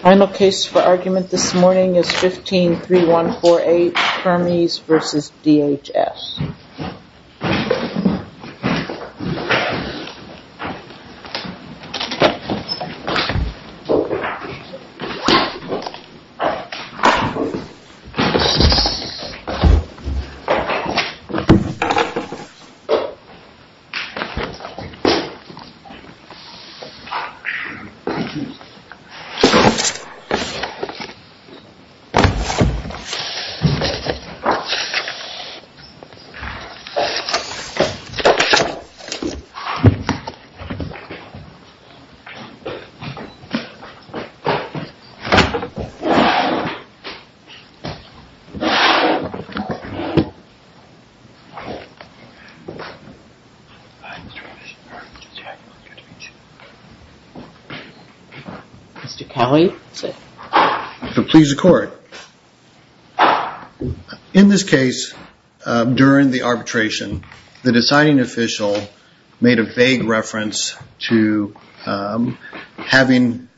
Final case for argument this morning is 15-3148, Kermes v. DHS This case is 15-3148, Kermes v. DHS In this case during the arbitration the deciding official made a vague reference to having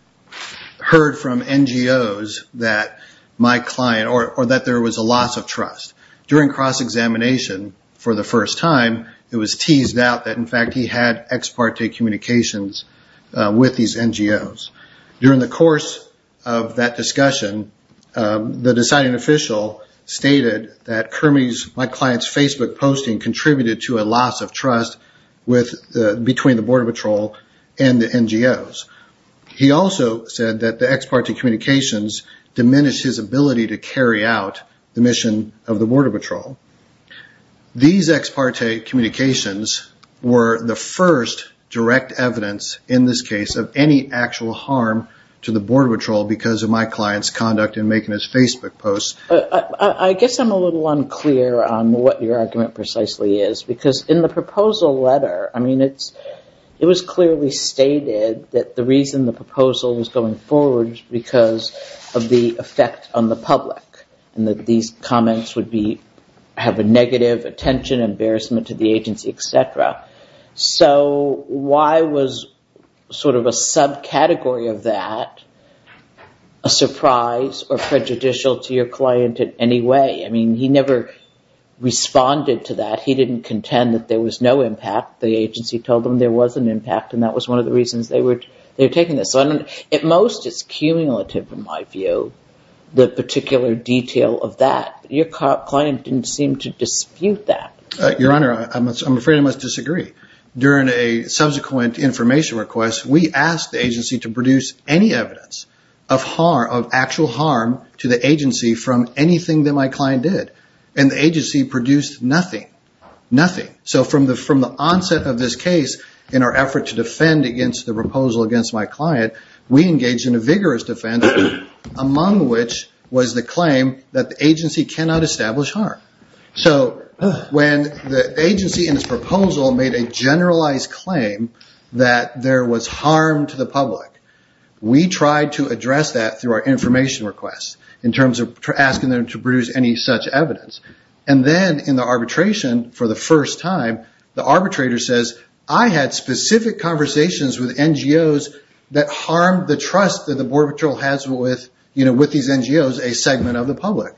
heard from NGOs that my client, or that there was a loss of trust. During cross-examination for the first time it was the ex parte communications with these NGOs. During the course of that discussion, the deciding official stated that my client's Facebook posting contributed to a loss of trust between the Border Patrol and the NGOs. He also said that the ex parte communications diminished his ability to carry out the mission of the Border Patrol. These ex parte communications were the first direct evidence, in this case, of any actual harm to the Border Patrol because of my client's conduct in making his Facebook posts. I guess I'm a little unclear on what your argument precisely is because in the proposal letter, I mean, it was clearly stated that the reason the public and that these comments would have a negative attention, embarrassment to the agency, etc. So why was sort of a subcategory of that a surprise or prejudicial to your client in any way? I mean, he never responded to that. He didn't contend that there was no impact. The agency told him there was an impact and that was one of the reasons they were taking this. At most, it's cumulative, in my view, the particular detail of that. Your client didn't seem to dispute that. Your Honor, I'm afraid I must disagree. During a subsequent information request, we asked the agency to produce any evidence of actual harm to the public. In our effort to defend against the proposal against my client, we engaged in a vigorous defense, among which was the claim that the agency cannot establish harm. So when the agency in its proposal made a generalized claim that there was harm to the public, we tried to address that through our specific conversations with NGOs that harmed the trust that the Border Patrol has with these NGOs, a segment of the public.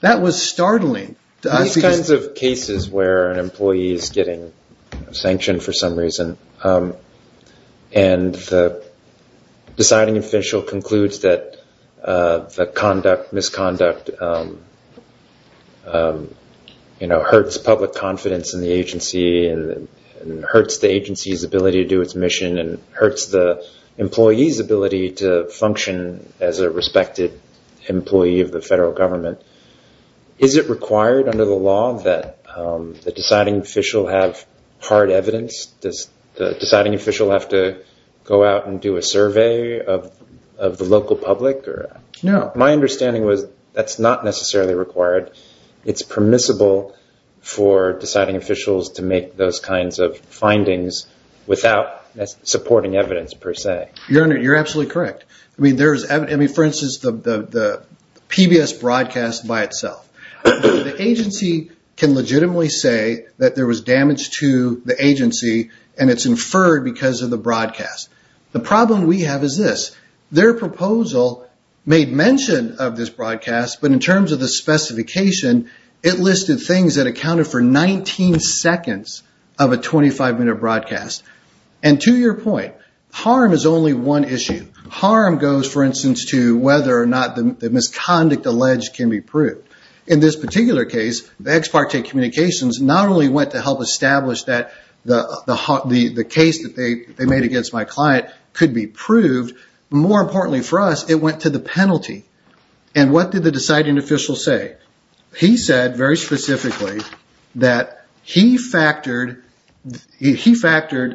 That was startling to us because... These kinds of cases where an employee is getting sanctioned for some reason and the deciding official concludes that the misconduct hurts public agency's ability to do its mission and hurts the employee's ability to function as a respected employee of the federal government, is it required under the law that the deciding official have hard evidence? Does the deciding official have to go out and do a survey of the local public? My understanding was that's not necessarily required. It's permissible for deciding officials to make those kinds of findings without supporting evidence per se. Your Honor, you're absolutely correct. For instance, the PBS broadcast by itself. The agency can legitimately say that there was damage to the agency and it's inferred because of the broadcast. The problem we have is this. Their proposal made mention of this broadcast, but in terms of the specification, it listed things that accounted for 19 seconds of a 25-minute broadcast. And to your point, harm is only one issue. Harm goes, for instance, to whether or not the misconduct alleged can be proved. In this particular case, the ex parte communications not only went to help establish that the case that they made against my client could be proved, but more importantly for us, it went to the penalty. And what did the deciding official say? He said very specifically that he factored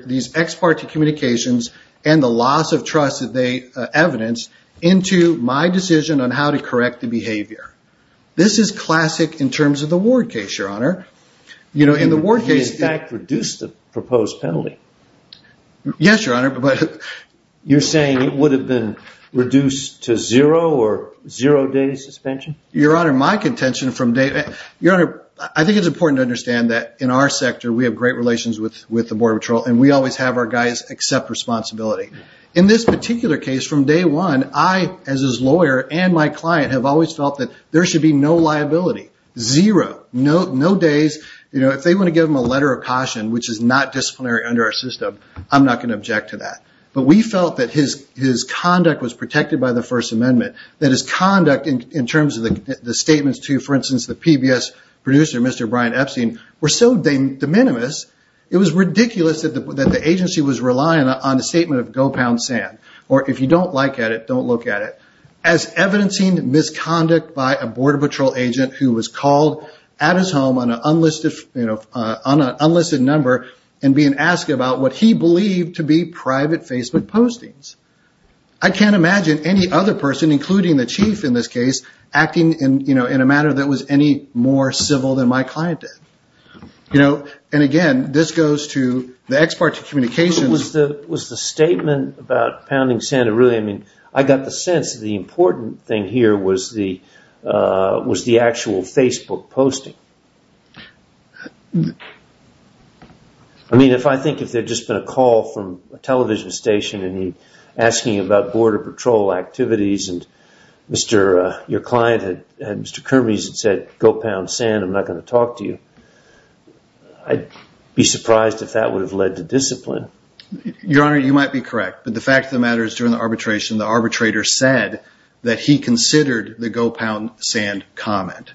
these ex parte communications and the loss of trust that they evidence into my decision on how to correct the behavior. This is classic in terms of the Ward case, Your Honor. He in fact reduced the proposed penalty. Yes, Your Honor, but... You're saying it would have been reduced to zero or zero days suspension? Your Honor, my contention from day... Your Honor, I think it's important to understand that in our sector, we have great relations with the Border Patrol and we always have our guys accept responsibility. In this particular case, from day one, I as his lawyer and my client have always felt that there should be no liability, zero, no days. If they want to give him a letter of caution, which is not disciplinary under our system, I'm not going to object to that. But we felt that his conduct was protected by the First Amendment, that his conduct in terms of the statements to, for instance, the PBS producer, Mr. Brian Epstein, were so de minimis, it was ridiculous that the agency was relying on the statement of Go Pound Sand, or if you don't like it, don't look at it, as evidencing misconduct by a Border Patrol agent who was called at his home on an unlisted number and being asked about what he believed to be private Facebook postings. I can't imagine any other person, including the chief in this case, acting in a matter that was any more civil than my client did. And again, this goes to the ex parte communications... Was the statement about Pounding Sand, I got the sense that the important thing here was the actual Facebook posting. I mean, if I think if there had just been a call from a television station and he was asking about Border Patrol activities, and your client, Mr. Kermes, had said, Go Pound Sand, I'm not going to talk to you, I'd be surprised if that would have led to discipline. Your Honor, you might be correct, but the fact of the matter is during the arbitration, the arbitrator said that he considered the Go Pound Sand comment.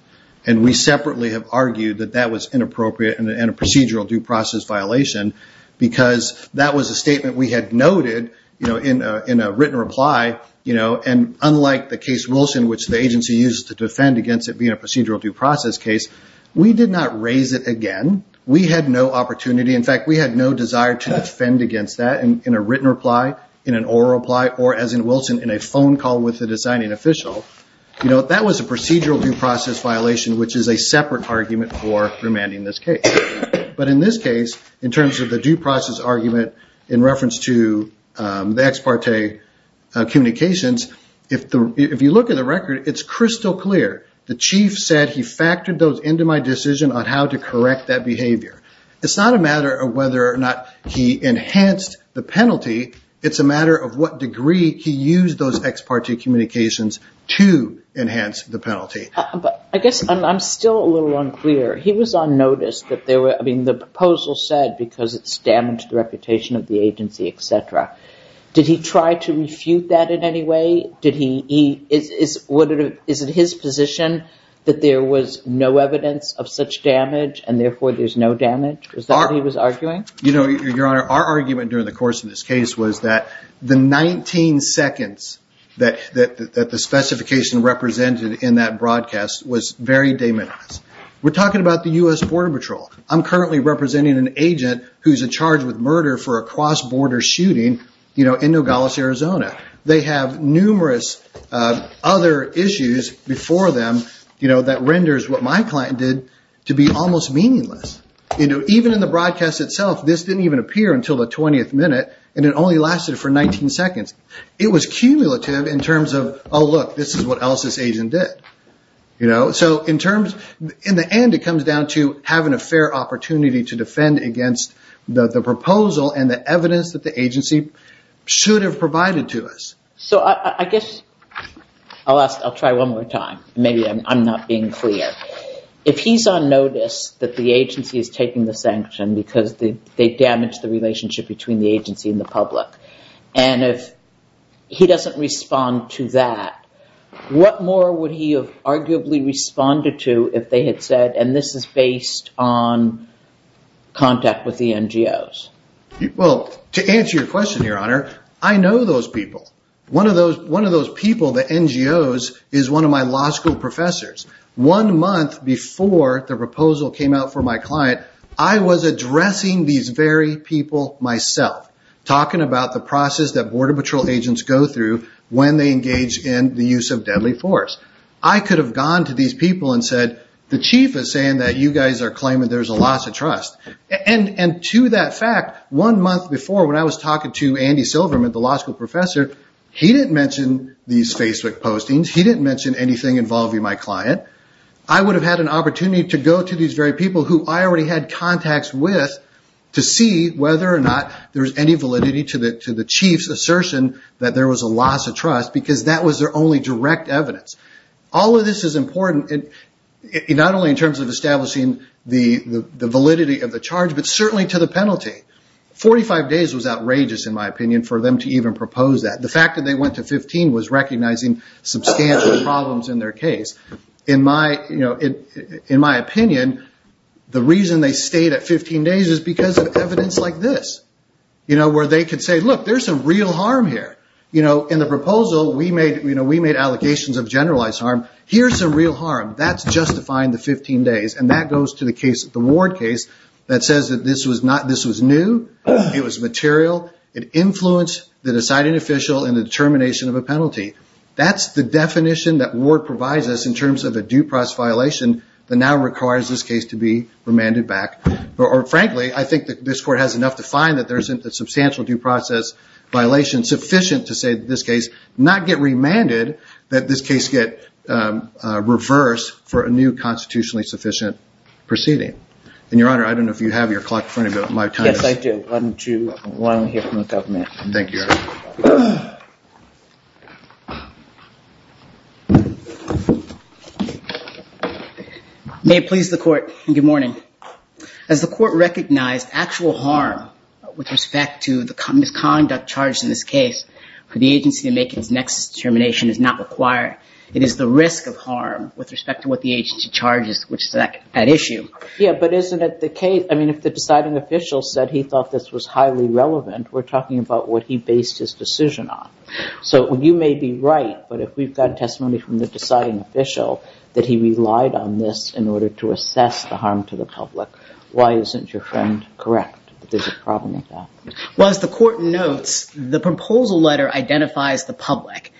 And we separately have argued that that was inappropriate and a procedural due process violation, because that was a statement we had noted in a written reply. And unlike the case Wilson, which the agency used to defend against it being a procedural due process case, we did not raise it again. We had no opportunity. In fact, we had no desire to defend against that in a written reply, in an oral reply, or as in Wilson, in a phone call with a designing official. That was a procedural due process violation, which is a separate argument for remanding this case. But in this case, in terms of the due process argument in reference to the ex parte communications, if you look at the record, it's crystal clear. The chief said he factored those into my decision on how to correct that behavior. It's not a matter of whether or not he enhanced the penalty. It's a matter of what degree he used those ex parte communications to enhance the penalty. But I guess I'm still a little unclear. He was on notice that there were I mean, the proposal said because it's damaged the reputation of the agency, etc. Did he try to refute that in any way? Is it his position that there was no evidence of such damage and therefore there's no damage? Is that what he was arguing? You know, Your Honor, our argument during the course of this case was that the 19 seconds that the specification represented in that broadcast was very de minimis. We're talking about the U.S. Border Patrol. I'm currently representing an agent who's in charge with murder for a cross-border shooting in Nogales, Arizona. They have numerous other issues before them that renders what my client did to be almost meaningless. Even in the broadcast itself, this didn't even appear until the 20th minute, and it only lasted for 19 seconds. It was cumulative in terms of, oh, look, this is what else this agent did. In the end, it comes down to having a fair opportunity to defend against the proposal and the evidence that the agency should have provided to us. I guess I'll try one more time. Maybe I'm not being clear. If he's on notice that the agency is taking the sanction because they damaged the relationship between the agency and the public, and if he doesn't respond to that, what more would he have arguably responded to if they had said, and this is based on contact with the NGOs? Well, to answer your question, Your Honor, I know those people. One of those people, the NGOs, is one of my law school professors. One month before the proposal came out for my client, I was addressing these very people myself, talking about the process that Border Patrol agents go through when they engage in the use of deadly force. I could have gone to these people and said, the chief is saying that you guys are claiming there's a loss of trust. And to that fact, one month before, when I was talking to Andy Silverman, the law school professor, he didn't mention these Facebook postings. He didn't mention anything involving my client. I would have had an opportunity to go to these very people who I already had contacts with to see whether or not there was any validity to the chief's assertion that there was a loss of trust, because that was their only direct evidence. All of this is important, not only in terms of establishing the validity of the charge, but certainly to the penalty. 45 days was outrageous, in my opinion, for them to even propose that. The fact that they went to 15 was recognizing substantial problems in their case. In my opinion, the reason they stayed at 15 days is because of evidence like this, where they could say, look, there's some real harm here. In the proposal, we made allocations of generalized harm. Here's some real harm. That's justifying the 15 days. And that goes to the Ward case that says that this was new. It was material. It influenced the deciding official in the determination of a penalty. That's the definition that Ward provides us in terms of a due process violation that now requires this case to be remanded back. Or frankly, I think that this court has enough to find that there isn't a substantial due process violation sufficient to say that this case not get remanded, that this case get reversed for a new constitutionally sufficient proceeding. And Your Honor, I don't know if you have your clock in front of you. Yes, I do. Why don't we hear from the government? Thank you, Your Honor. May it please the court. Good morning. As the court recognized, actual harm with respect to the misconduct charged in this case for the agency to make its next determination is not required. It is the risk of harm with respect to what the agency charges, which is at issue. Yeah, but isn't it the case, I mean, if the deciding official said he thought this was highly relevant, we're talking about what he based his decision on. So you may be right, but if we've got testimony from the deciding official that he relied on this in order to assess the harm to the public, why isn't your friend correct that there's a problem with that? Well, as the court notes, the proposal letter identifies the public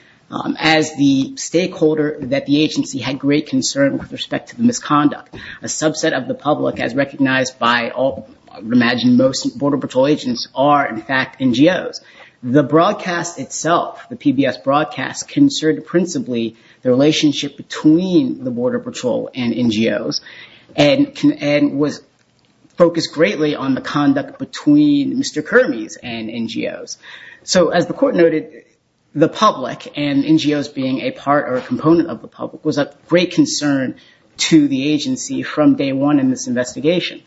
as the stakeholder that the agency had great concern with respect to the misconduct. A subset of the public, as recognized by all, I would imagine most border patrol agents, are in fact NGOs. The broadcast itself, the PBS broadcast, concerned principally the relationship between the border patrol and NGOs and was focused greatly on the conduct between Mr. Kermes and NGOs. So as the court noted, the public and NGOs being a part or a component of the public was of great concern to the agency from day one in this investigation.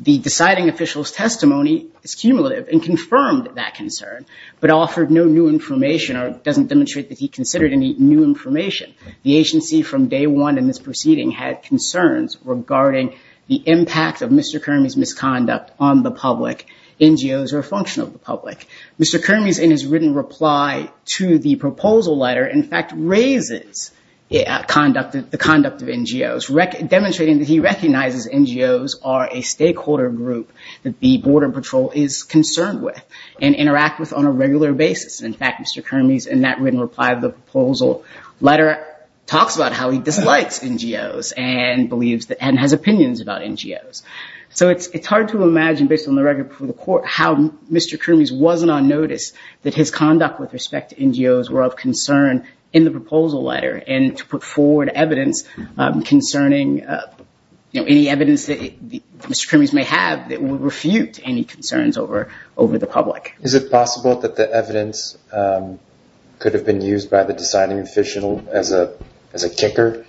The deciding official's testimony is cumulative and confirmed that concern, but offered no new information or doesn't demonstrate that he considered any new information. The agency from day one in this proceeding had concerns regarding the impact of Mr. Kermes' misconduct on the public, NGOs, or a function of the public. Mr. Kermes, in his written reply to the proposal letter, in fact raises the conduct of NGOs, demonstrating that he recognizes NGOs are a stakeholder group that the border patrol is concerned with and interact with on a regular basis. In fact, Mr. Kermes, in that written reply to the proposal letter, talks about how he dislikes NGOs and has opinions about NGOs. So it's hard to imagine, based on the record before the court, how Mr. Kermes wasn't on notice that his conduct with respect to NGOs were of concern in the proposal letter and to put forward evidence concerning any evidence that Mr. Kermes may have that would refute any concerns over the public. Is it possible that the evidence could have been used by the deciding official as a kicker,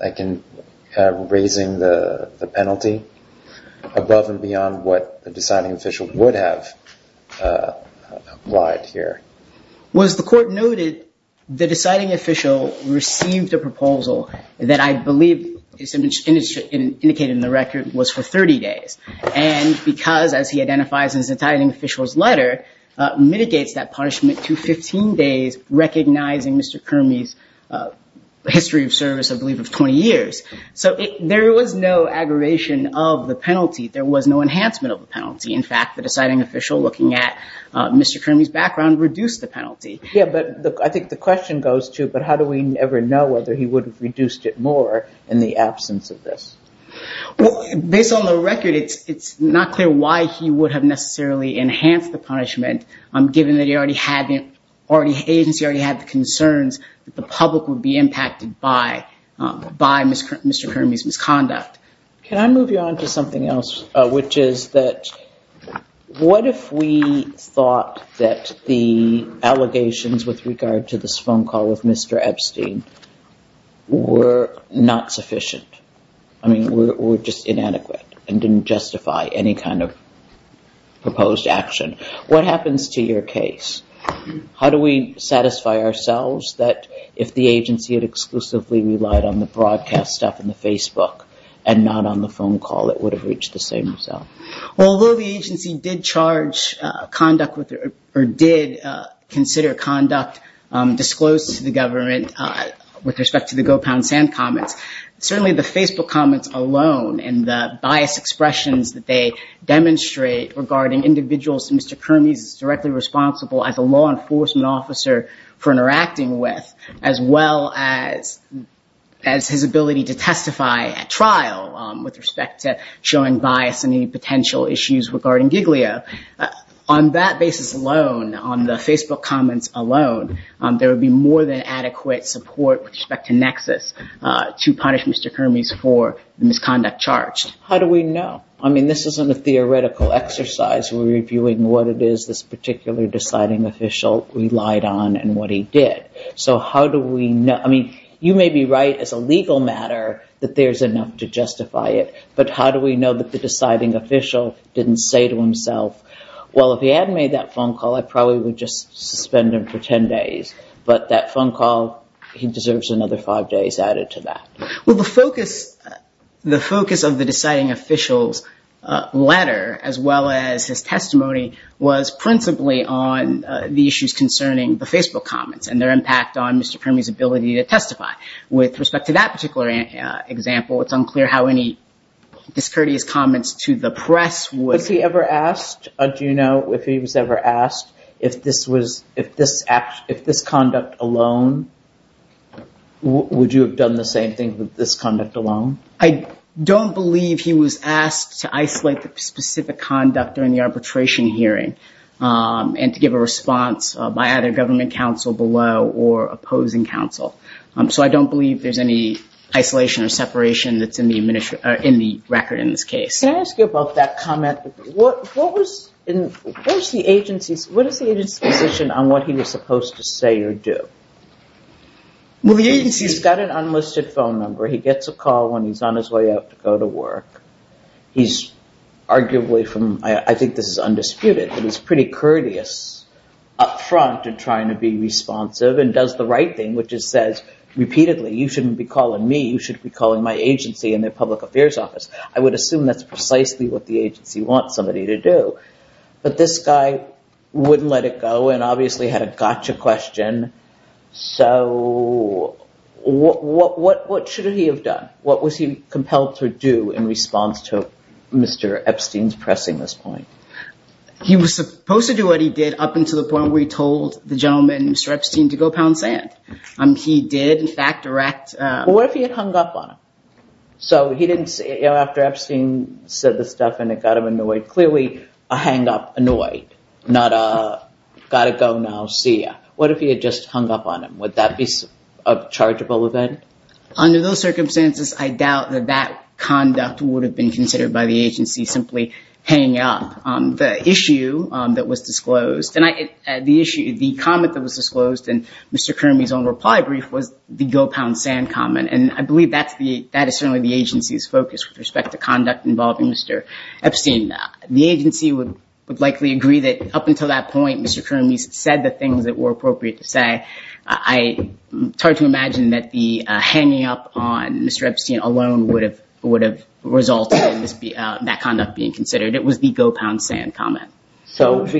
like in raising the penalty, above and beyond what the deciding official would have lied here? Well, as the court noted, the deciding official received a proposal that I believe is indicated in the record was for 30 days. And because, as he identifies in his entitling official's letter, mitigates that punishment to 15 days, recognizing Mr. Kermes' history of service, I believe, of 20 years. So there was no aggravation of the penalty. There was no enhancement of the penalty. In fact, the deciding official, looking at Mr. Kermes' background, reduced the penalty. Yeah, but I think the question goes to, but how do we ever know whether he would have reduced it more in the absence of this? Well, based on the record, it's not clear why he would have necessarily enhanced the punishment, given that he already had the concerns that the public would be impacted by Mr. Kermes' misconduct. Can I move you on to something else, which is that what if we thought that the allegations with regard to this phone call of Mr. Epstein were not sufficient? I mean, were just inadequate and didn't justify any kind of proposed action. What happens to your case? How do we satisfy ourselves that if the agency had exclusively relied on the broadcast stuff and the Facebook and not on the phone call, it would have reached the same result? Well, although the agency did consider conduct disclosed to the government with respect to the Go Pound Sand comments, certainly the Facebook comments alone and the biased expressions that they demonstrate regarding individuals that Mr. Kermes is directly responsible as a law enforcement officer for interacting with, as well as his ability to testify at trial with respect to showing bias and any potential issues regarding Giglio. On that basis alone, on the Facebook comments alone, there would be more than adequate support with respect to Nexus to punish Mr. Kermes for the misconduct charged. How do we know? I mean, this isn't a theoretical exercise. We're reviewing what it is this particular deciding official relied on and what he did. So how do we know? I mean, you may be right as a legal matter that there's enough to justify it, but how do we know that the deciding official didn't say to himself, well, if he hadn't made that phone call, I probably would just suspend him for 10 days, but that phone call, he deserves another five days added to that. Well, the focus of the deciding official's letter, as well as his testimony, was principally on the issues concerning the Facebook comments and their impact on Mr. Kermes' ability to testify. With respect to that particular example, it's unclear how any discourteous comments to the press would... Do you know if he was ever asked if this conduct alone, would you have done the same thing with this conduct alone? So I don't believe there's any isolation or separation that's in the record in this case. Can I ask you about that comment? What was the agency's position on what he was supposed to say or do? He's got an unlisted phone number. He gets a call when he's on his way out to go to work. He's arguably from, I think this is undisputed, but he's pretty courteous up front in trying to be responsive and does the right thing, which is says repeatedly, you shouldn't be calling me, you should be calling my agency and their public affairs office. I would assume that's precisely what the agency wants somebody to do, but this guy wouldn't let it go and obviously had a gotcha question. So what should he have done? What was he compelled to do in response to Mr. Epstein's pressing this point? He was supposed to do what he did up until the point where he told the gentleman, Mr. Epstein, to go pound sand. He did, in fact, erect... After Epstein said the stuff and it got him annoyed, clearly a hang up annoyed, not a gotta go now, see ya. What if he had just hung up on him? Would that be a chargeable event? Under those circumstances, I doubt that that conduct would have been considered by the agency, simply hanging up. The issue that was disclosed, the comment that was disclosed in Mr. Kermey's own reply brief was the go pound sand comment. I believe that is certainly the agency's focus with respect to conduct involving Mr. Epstein. The agency would likely agree that up until that point, Mr. Kermey said the things that were appropriate to say. It's hard to imagine that the hanging up on Mr. Epstein alone would have resulted in that conduct being considered. It was the go pound sand comment. Because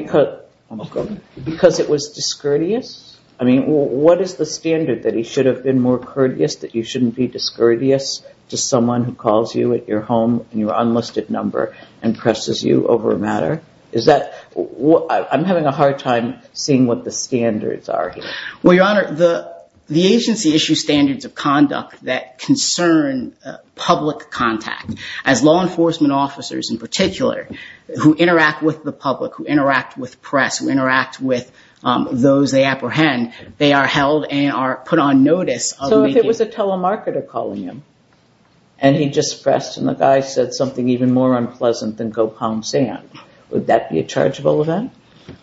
it was discourteous? What is the standard that he should have been more courteous, that you shouldn't be discourteous to someone who calls you at your home and your unlisted number and presses you over a matter? I'm having a hard time seeing what the standards are here. Well, Your Honor, the agency issues standards of conduct that concern public contact. As law enforcement officers, in particular, who interact with the public, who interact with press, who interact with those they apprehend, they are held and are put on notice. So if it was a telemarketer calling him and he just pressed and the guy said something even more unpleasant than go pound sand, would that be a chargeable event?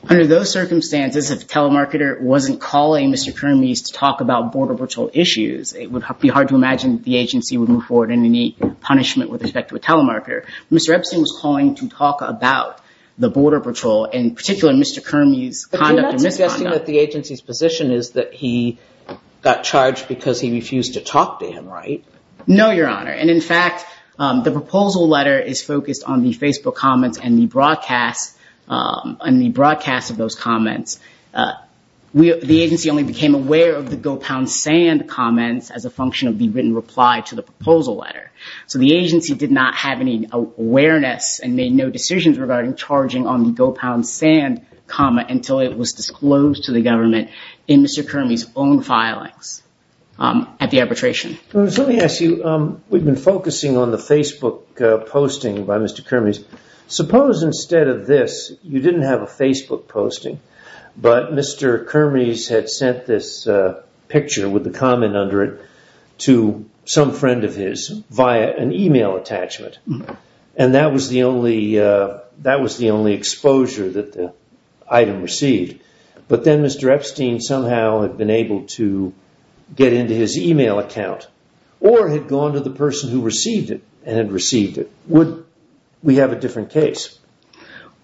Under those circumstances, if the telemarketer wasn't calling Mr. Kermey to talk about border patrol issues, it would be hard to imagine the agency would move forward any punishment with respect to a telemarketer. Mr. Epstein was calling to talk about the border patrol, in particular, Mr. Kermey's conduct and misconduct. But you're not suggesting that the agency's position is that he got charged because he refused to talk to him, right? No, Your Honor. And in fact, the proposal letter is focused on the Facebook comments and the broadcast of those comments. The agency only became aware of the go pound sand comments as a function of the written reply to the proposal letter. So the agency did not have any awareness and made no decisions regarding charging on the go pound sand comment until it was disclosed to the government in Mr. Kermey's own filings at the arbitration. Let me ask you, we've been focusing on the Facebook posting by Mr. Kermey. Suppose instead of this, you didn't have a Facebook posting, but Mr. Kermey had sent this picture with the comment under it to some friend of his via an email attachment. And that was the only exposure that the item received. But then Mr. Epstein somehow had been able to get into his email account or had gone to the person who received it and had received it. Would we have a different case?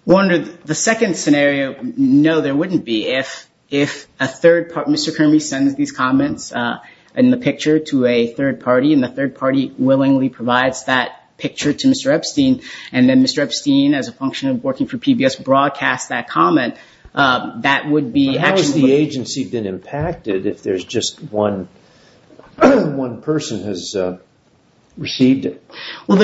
The second scenario, no, there wouldn't be. If Mr. Kermey sends these comments and the picture to a third party and the third party willingly provides that picture to Mr. Epstein, and then Mr. Epstein, as a function of working for PBS, broadcasts that comment, that would be... How has the agency been impacted if there's just one person who has received it? Well,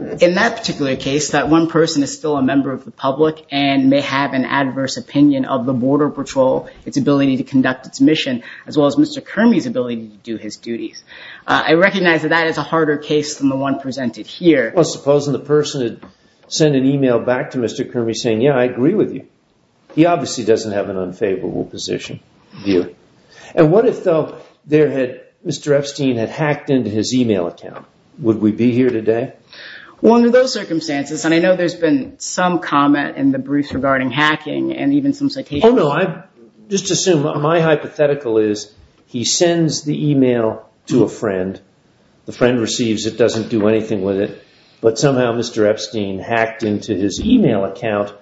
in that particular case, that one person is still a member of the public and may have an adverse opinion of the Border Patrol, its ability to conduct its mission, as well as Mr. Kermey's ability to do his duties. I recognize that that is a harder case than the one presented here. Well, supposing the person had sent an email back to Mr. Kermey saying, yeah, I agree with you. He obviously doesn't have an unfavorable position view. And what if, though, Mr. Epstein had hacked into his email account? Would we be here today? Well, under those circumstances, and I know there's been some comment in the briefs regarding hacking and even some citations. Oh, no, just assume. My hypothetical is he sends the email to a friend, the friend receives it, doesn't do anything with it, but somehow Mr. Epstein hacked into his email account,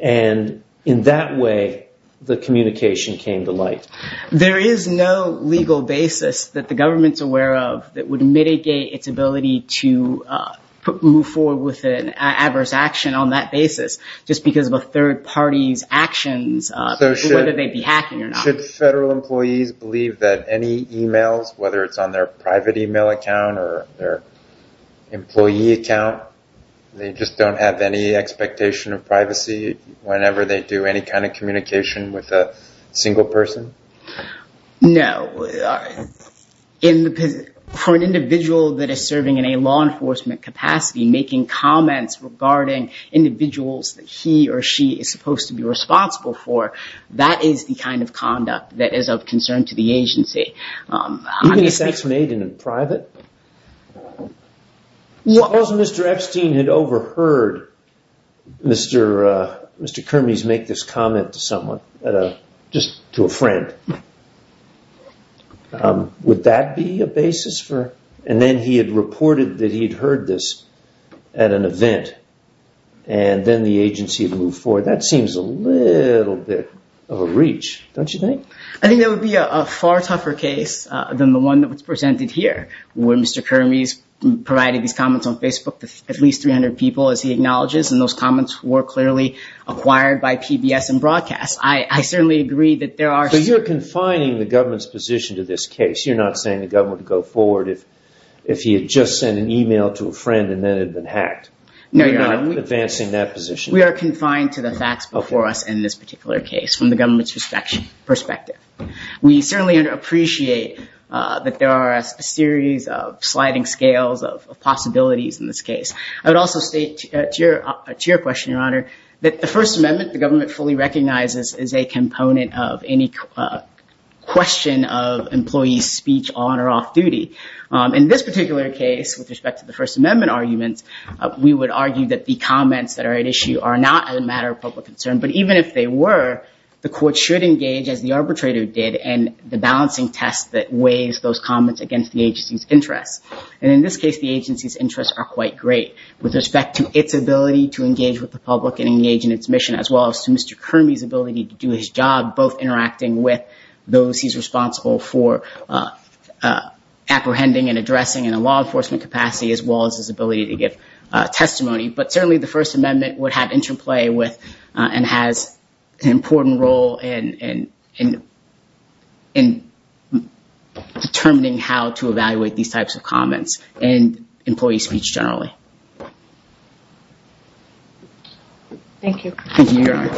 and in that way, the communication came to light. There is no legal basis that the government's aware of that would mitigate its ability to move forward with an adverse action on that basis, just because of a third party's actions, whether they be hacking or not. So should federal employees believe that any emails, whether it's on their private email account or their employee account, they just don't have any expectation of privacy whenever they do any kind of communication with a single person? No. For an individual that is serving in a law enforcement capacity, making comments regarding individuals that he or she is supposed to be responsible for, that is the kind of conduct that is of concern to the agency. Even if that's made in private? If Mr. Epstein had overheard Mr. Kermes make this comment to someone, just to a friend, would that be a basis? And then he had reported that he had heard this at an event, and then the agency had moved forward. That seems a little bit of a reach, don't you think? I think that would be a far tougher case than the one that was presented here. Where Mr. Kermes provided these comments on Facebook to at least 300 people, as he acknowledges, and those comments were clearly acquired by PBS and broadcast. I certainly agree that there are... So you're confining the government's position to this case? You're not saying the government would go forward if he had just sent an email to a friend and then had been hacked? No, Your Honor. You're not advancing that position? We are confined to the facts before us in this particular case, from the government's perspective. We certainly appreciate that there are a series of sliding scales of possibilities in this case. I would also state to your question, Your Honor, that the First Amendment, the government fully recognizes, is a component of any question of employees' speech on or off duty. In this particular case, with respect to the First Amendment arguments, we would argue that the comments that are at issue are not a matter of public concern. But even if they were, the court should engage, as the arbitrator did, in the balancing test that weighs those comments against the agency's interests. And in this case, the agency's interests are quite great, with respect to its ability to engage with the public and engage in its mission, as well as to Mr. Kermes' ability to do his job, both interacting with those he's responsible for apprehending and addressing in a law enforcement capacity, as well as his ability to give testimony. But certainly, the First Amendment would have interplay with and has an important role in determining how to evaluate these types of comments and employees' speech generally. Thank you. Thank you, Your Honor.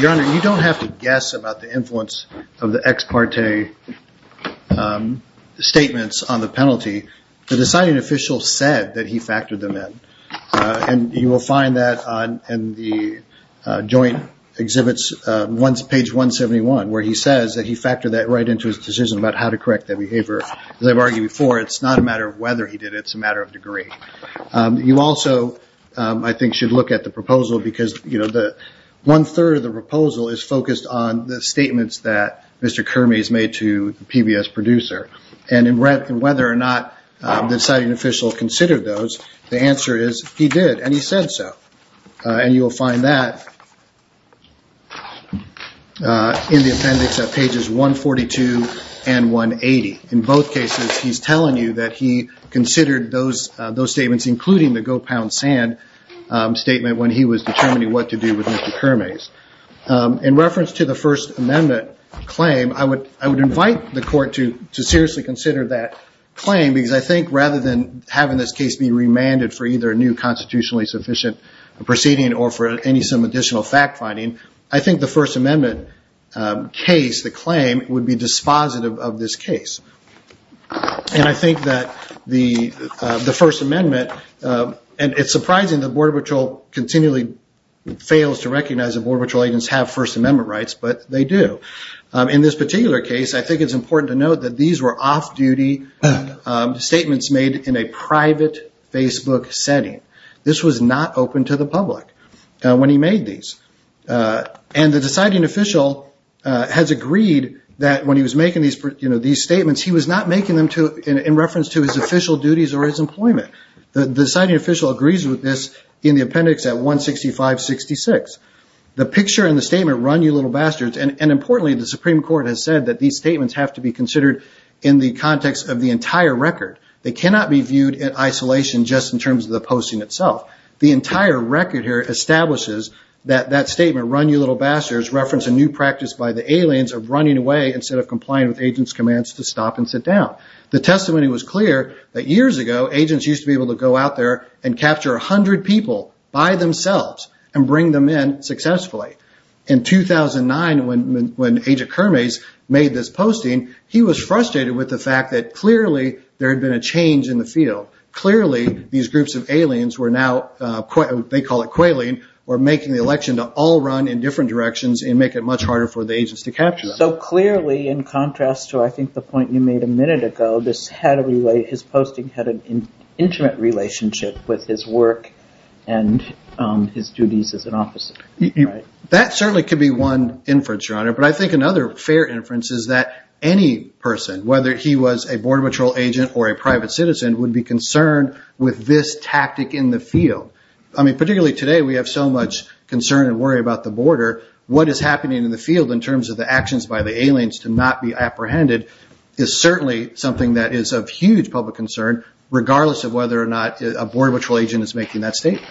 Your Honor, you don't have to guess about the influence of the ex parte statements on the penalty. The deciding official said that he factored them in. And you will find that in the joint exhibits, page 171, where he says that he factored that right into his decision about how to correct that behavior. As I've argued before, it's not a matter of whether he did it. It's a matter of degree. You also, I think, should look at the proposal, because one-third of the proposal is focused on the statements that Mr. Kermes made to the PBS producer. And whether or not the deciding official considered those, the answer is he did, and he said so. And you will find that in the appendix at pages 142 and 180. In both cases, he's telling you that he considered those statements, including the go-pound-sand statement when he was determining what to do with Mr. Kermes. In reference to the First Amendment claim, I would invite the court to seriously consider that claim, because I think rather than having this case be remanded for either a new constitutionally sufficient proceeding or for any additional fact-finding, I think the First Amendment case, the claim, would be dispositive of this case. And I think that the First Amendment, and it's surprising that Border Patrol continually fails to recognize that Border Patrol agents have First Amendment rights, but they do. In this particular case, I think it's important to note that these were off-duty statements made in a private Facebook setting. This was not open to the public when he made these. And the deciding official has agreed that when he was making these statements, he was not making them in reference to his official duties or his employment. The deciding official agrees with this in the appendix at 165-66. The picture in the statement, run, you little bastards, and importantly, the Supreme Court has said that these statements have to be considered in the context of the entire record. They cannot be viewed in isolation just in terms of the posting itself. The entire record here establishes that that statement, run, you little bastards, reference a new practice by the aliens of running away instead of complying with agents' commands to stop and sit down. The testimony was clear that years ago, agents used to be able to go out there and capture 100 people by themselves and bring them in successfully. In 2009, when Agent Kermes made this posting, he was frustrated with the fact that clearly there had been a change in the field. Clearly, these groups of aliens were now, they call it quailing, were making the election to all run in different directions and make it much harder for the agents to capture them. So clearly, in contrast to I think the point you made a minute ago, his posting had an intimate relationship with his work and his duties as an officer. That certainly could be one inference, Your Honor. But I think another fair inference is that any person, whether he was a Border Patrol agent or a private citizen, would be concerned with this tactic in the field. I mean, particularly today, we have so much concern and worry about the border. What is happening in the field in terms of the actions by the aliens to not be apprehended is certainly something that is of huge public concern, regardless of whether or not a Border Patrol agent is making that statement.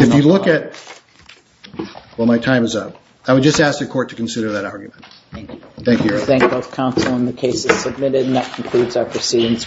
If you look at, well, my time is up. I would just ask the Court to consider that argument. Thank you. Thank you, Your Honor. Thank both counsel and the cases submitted. And that concludes our proceedings this morning.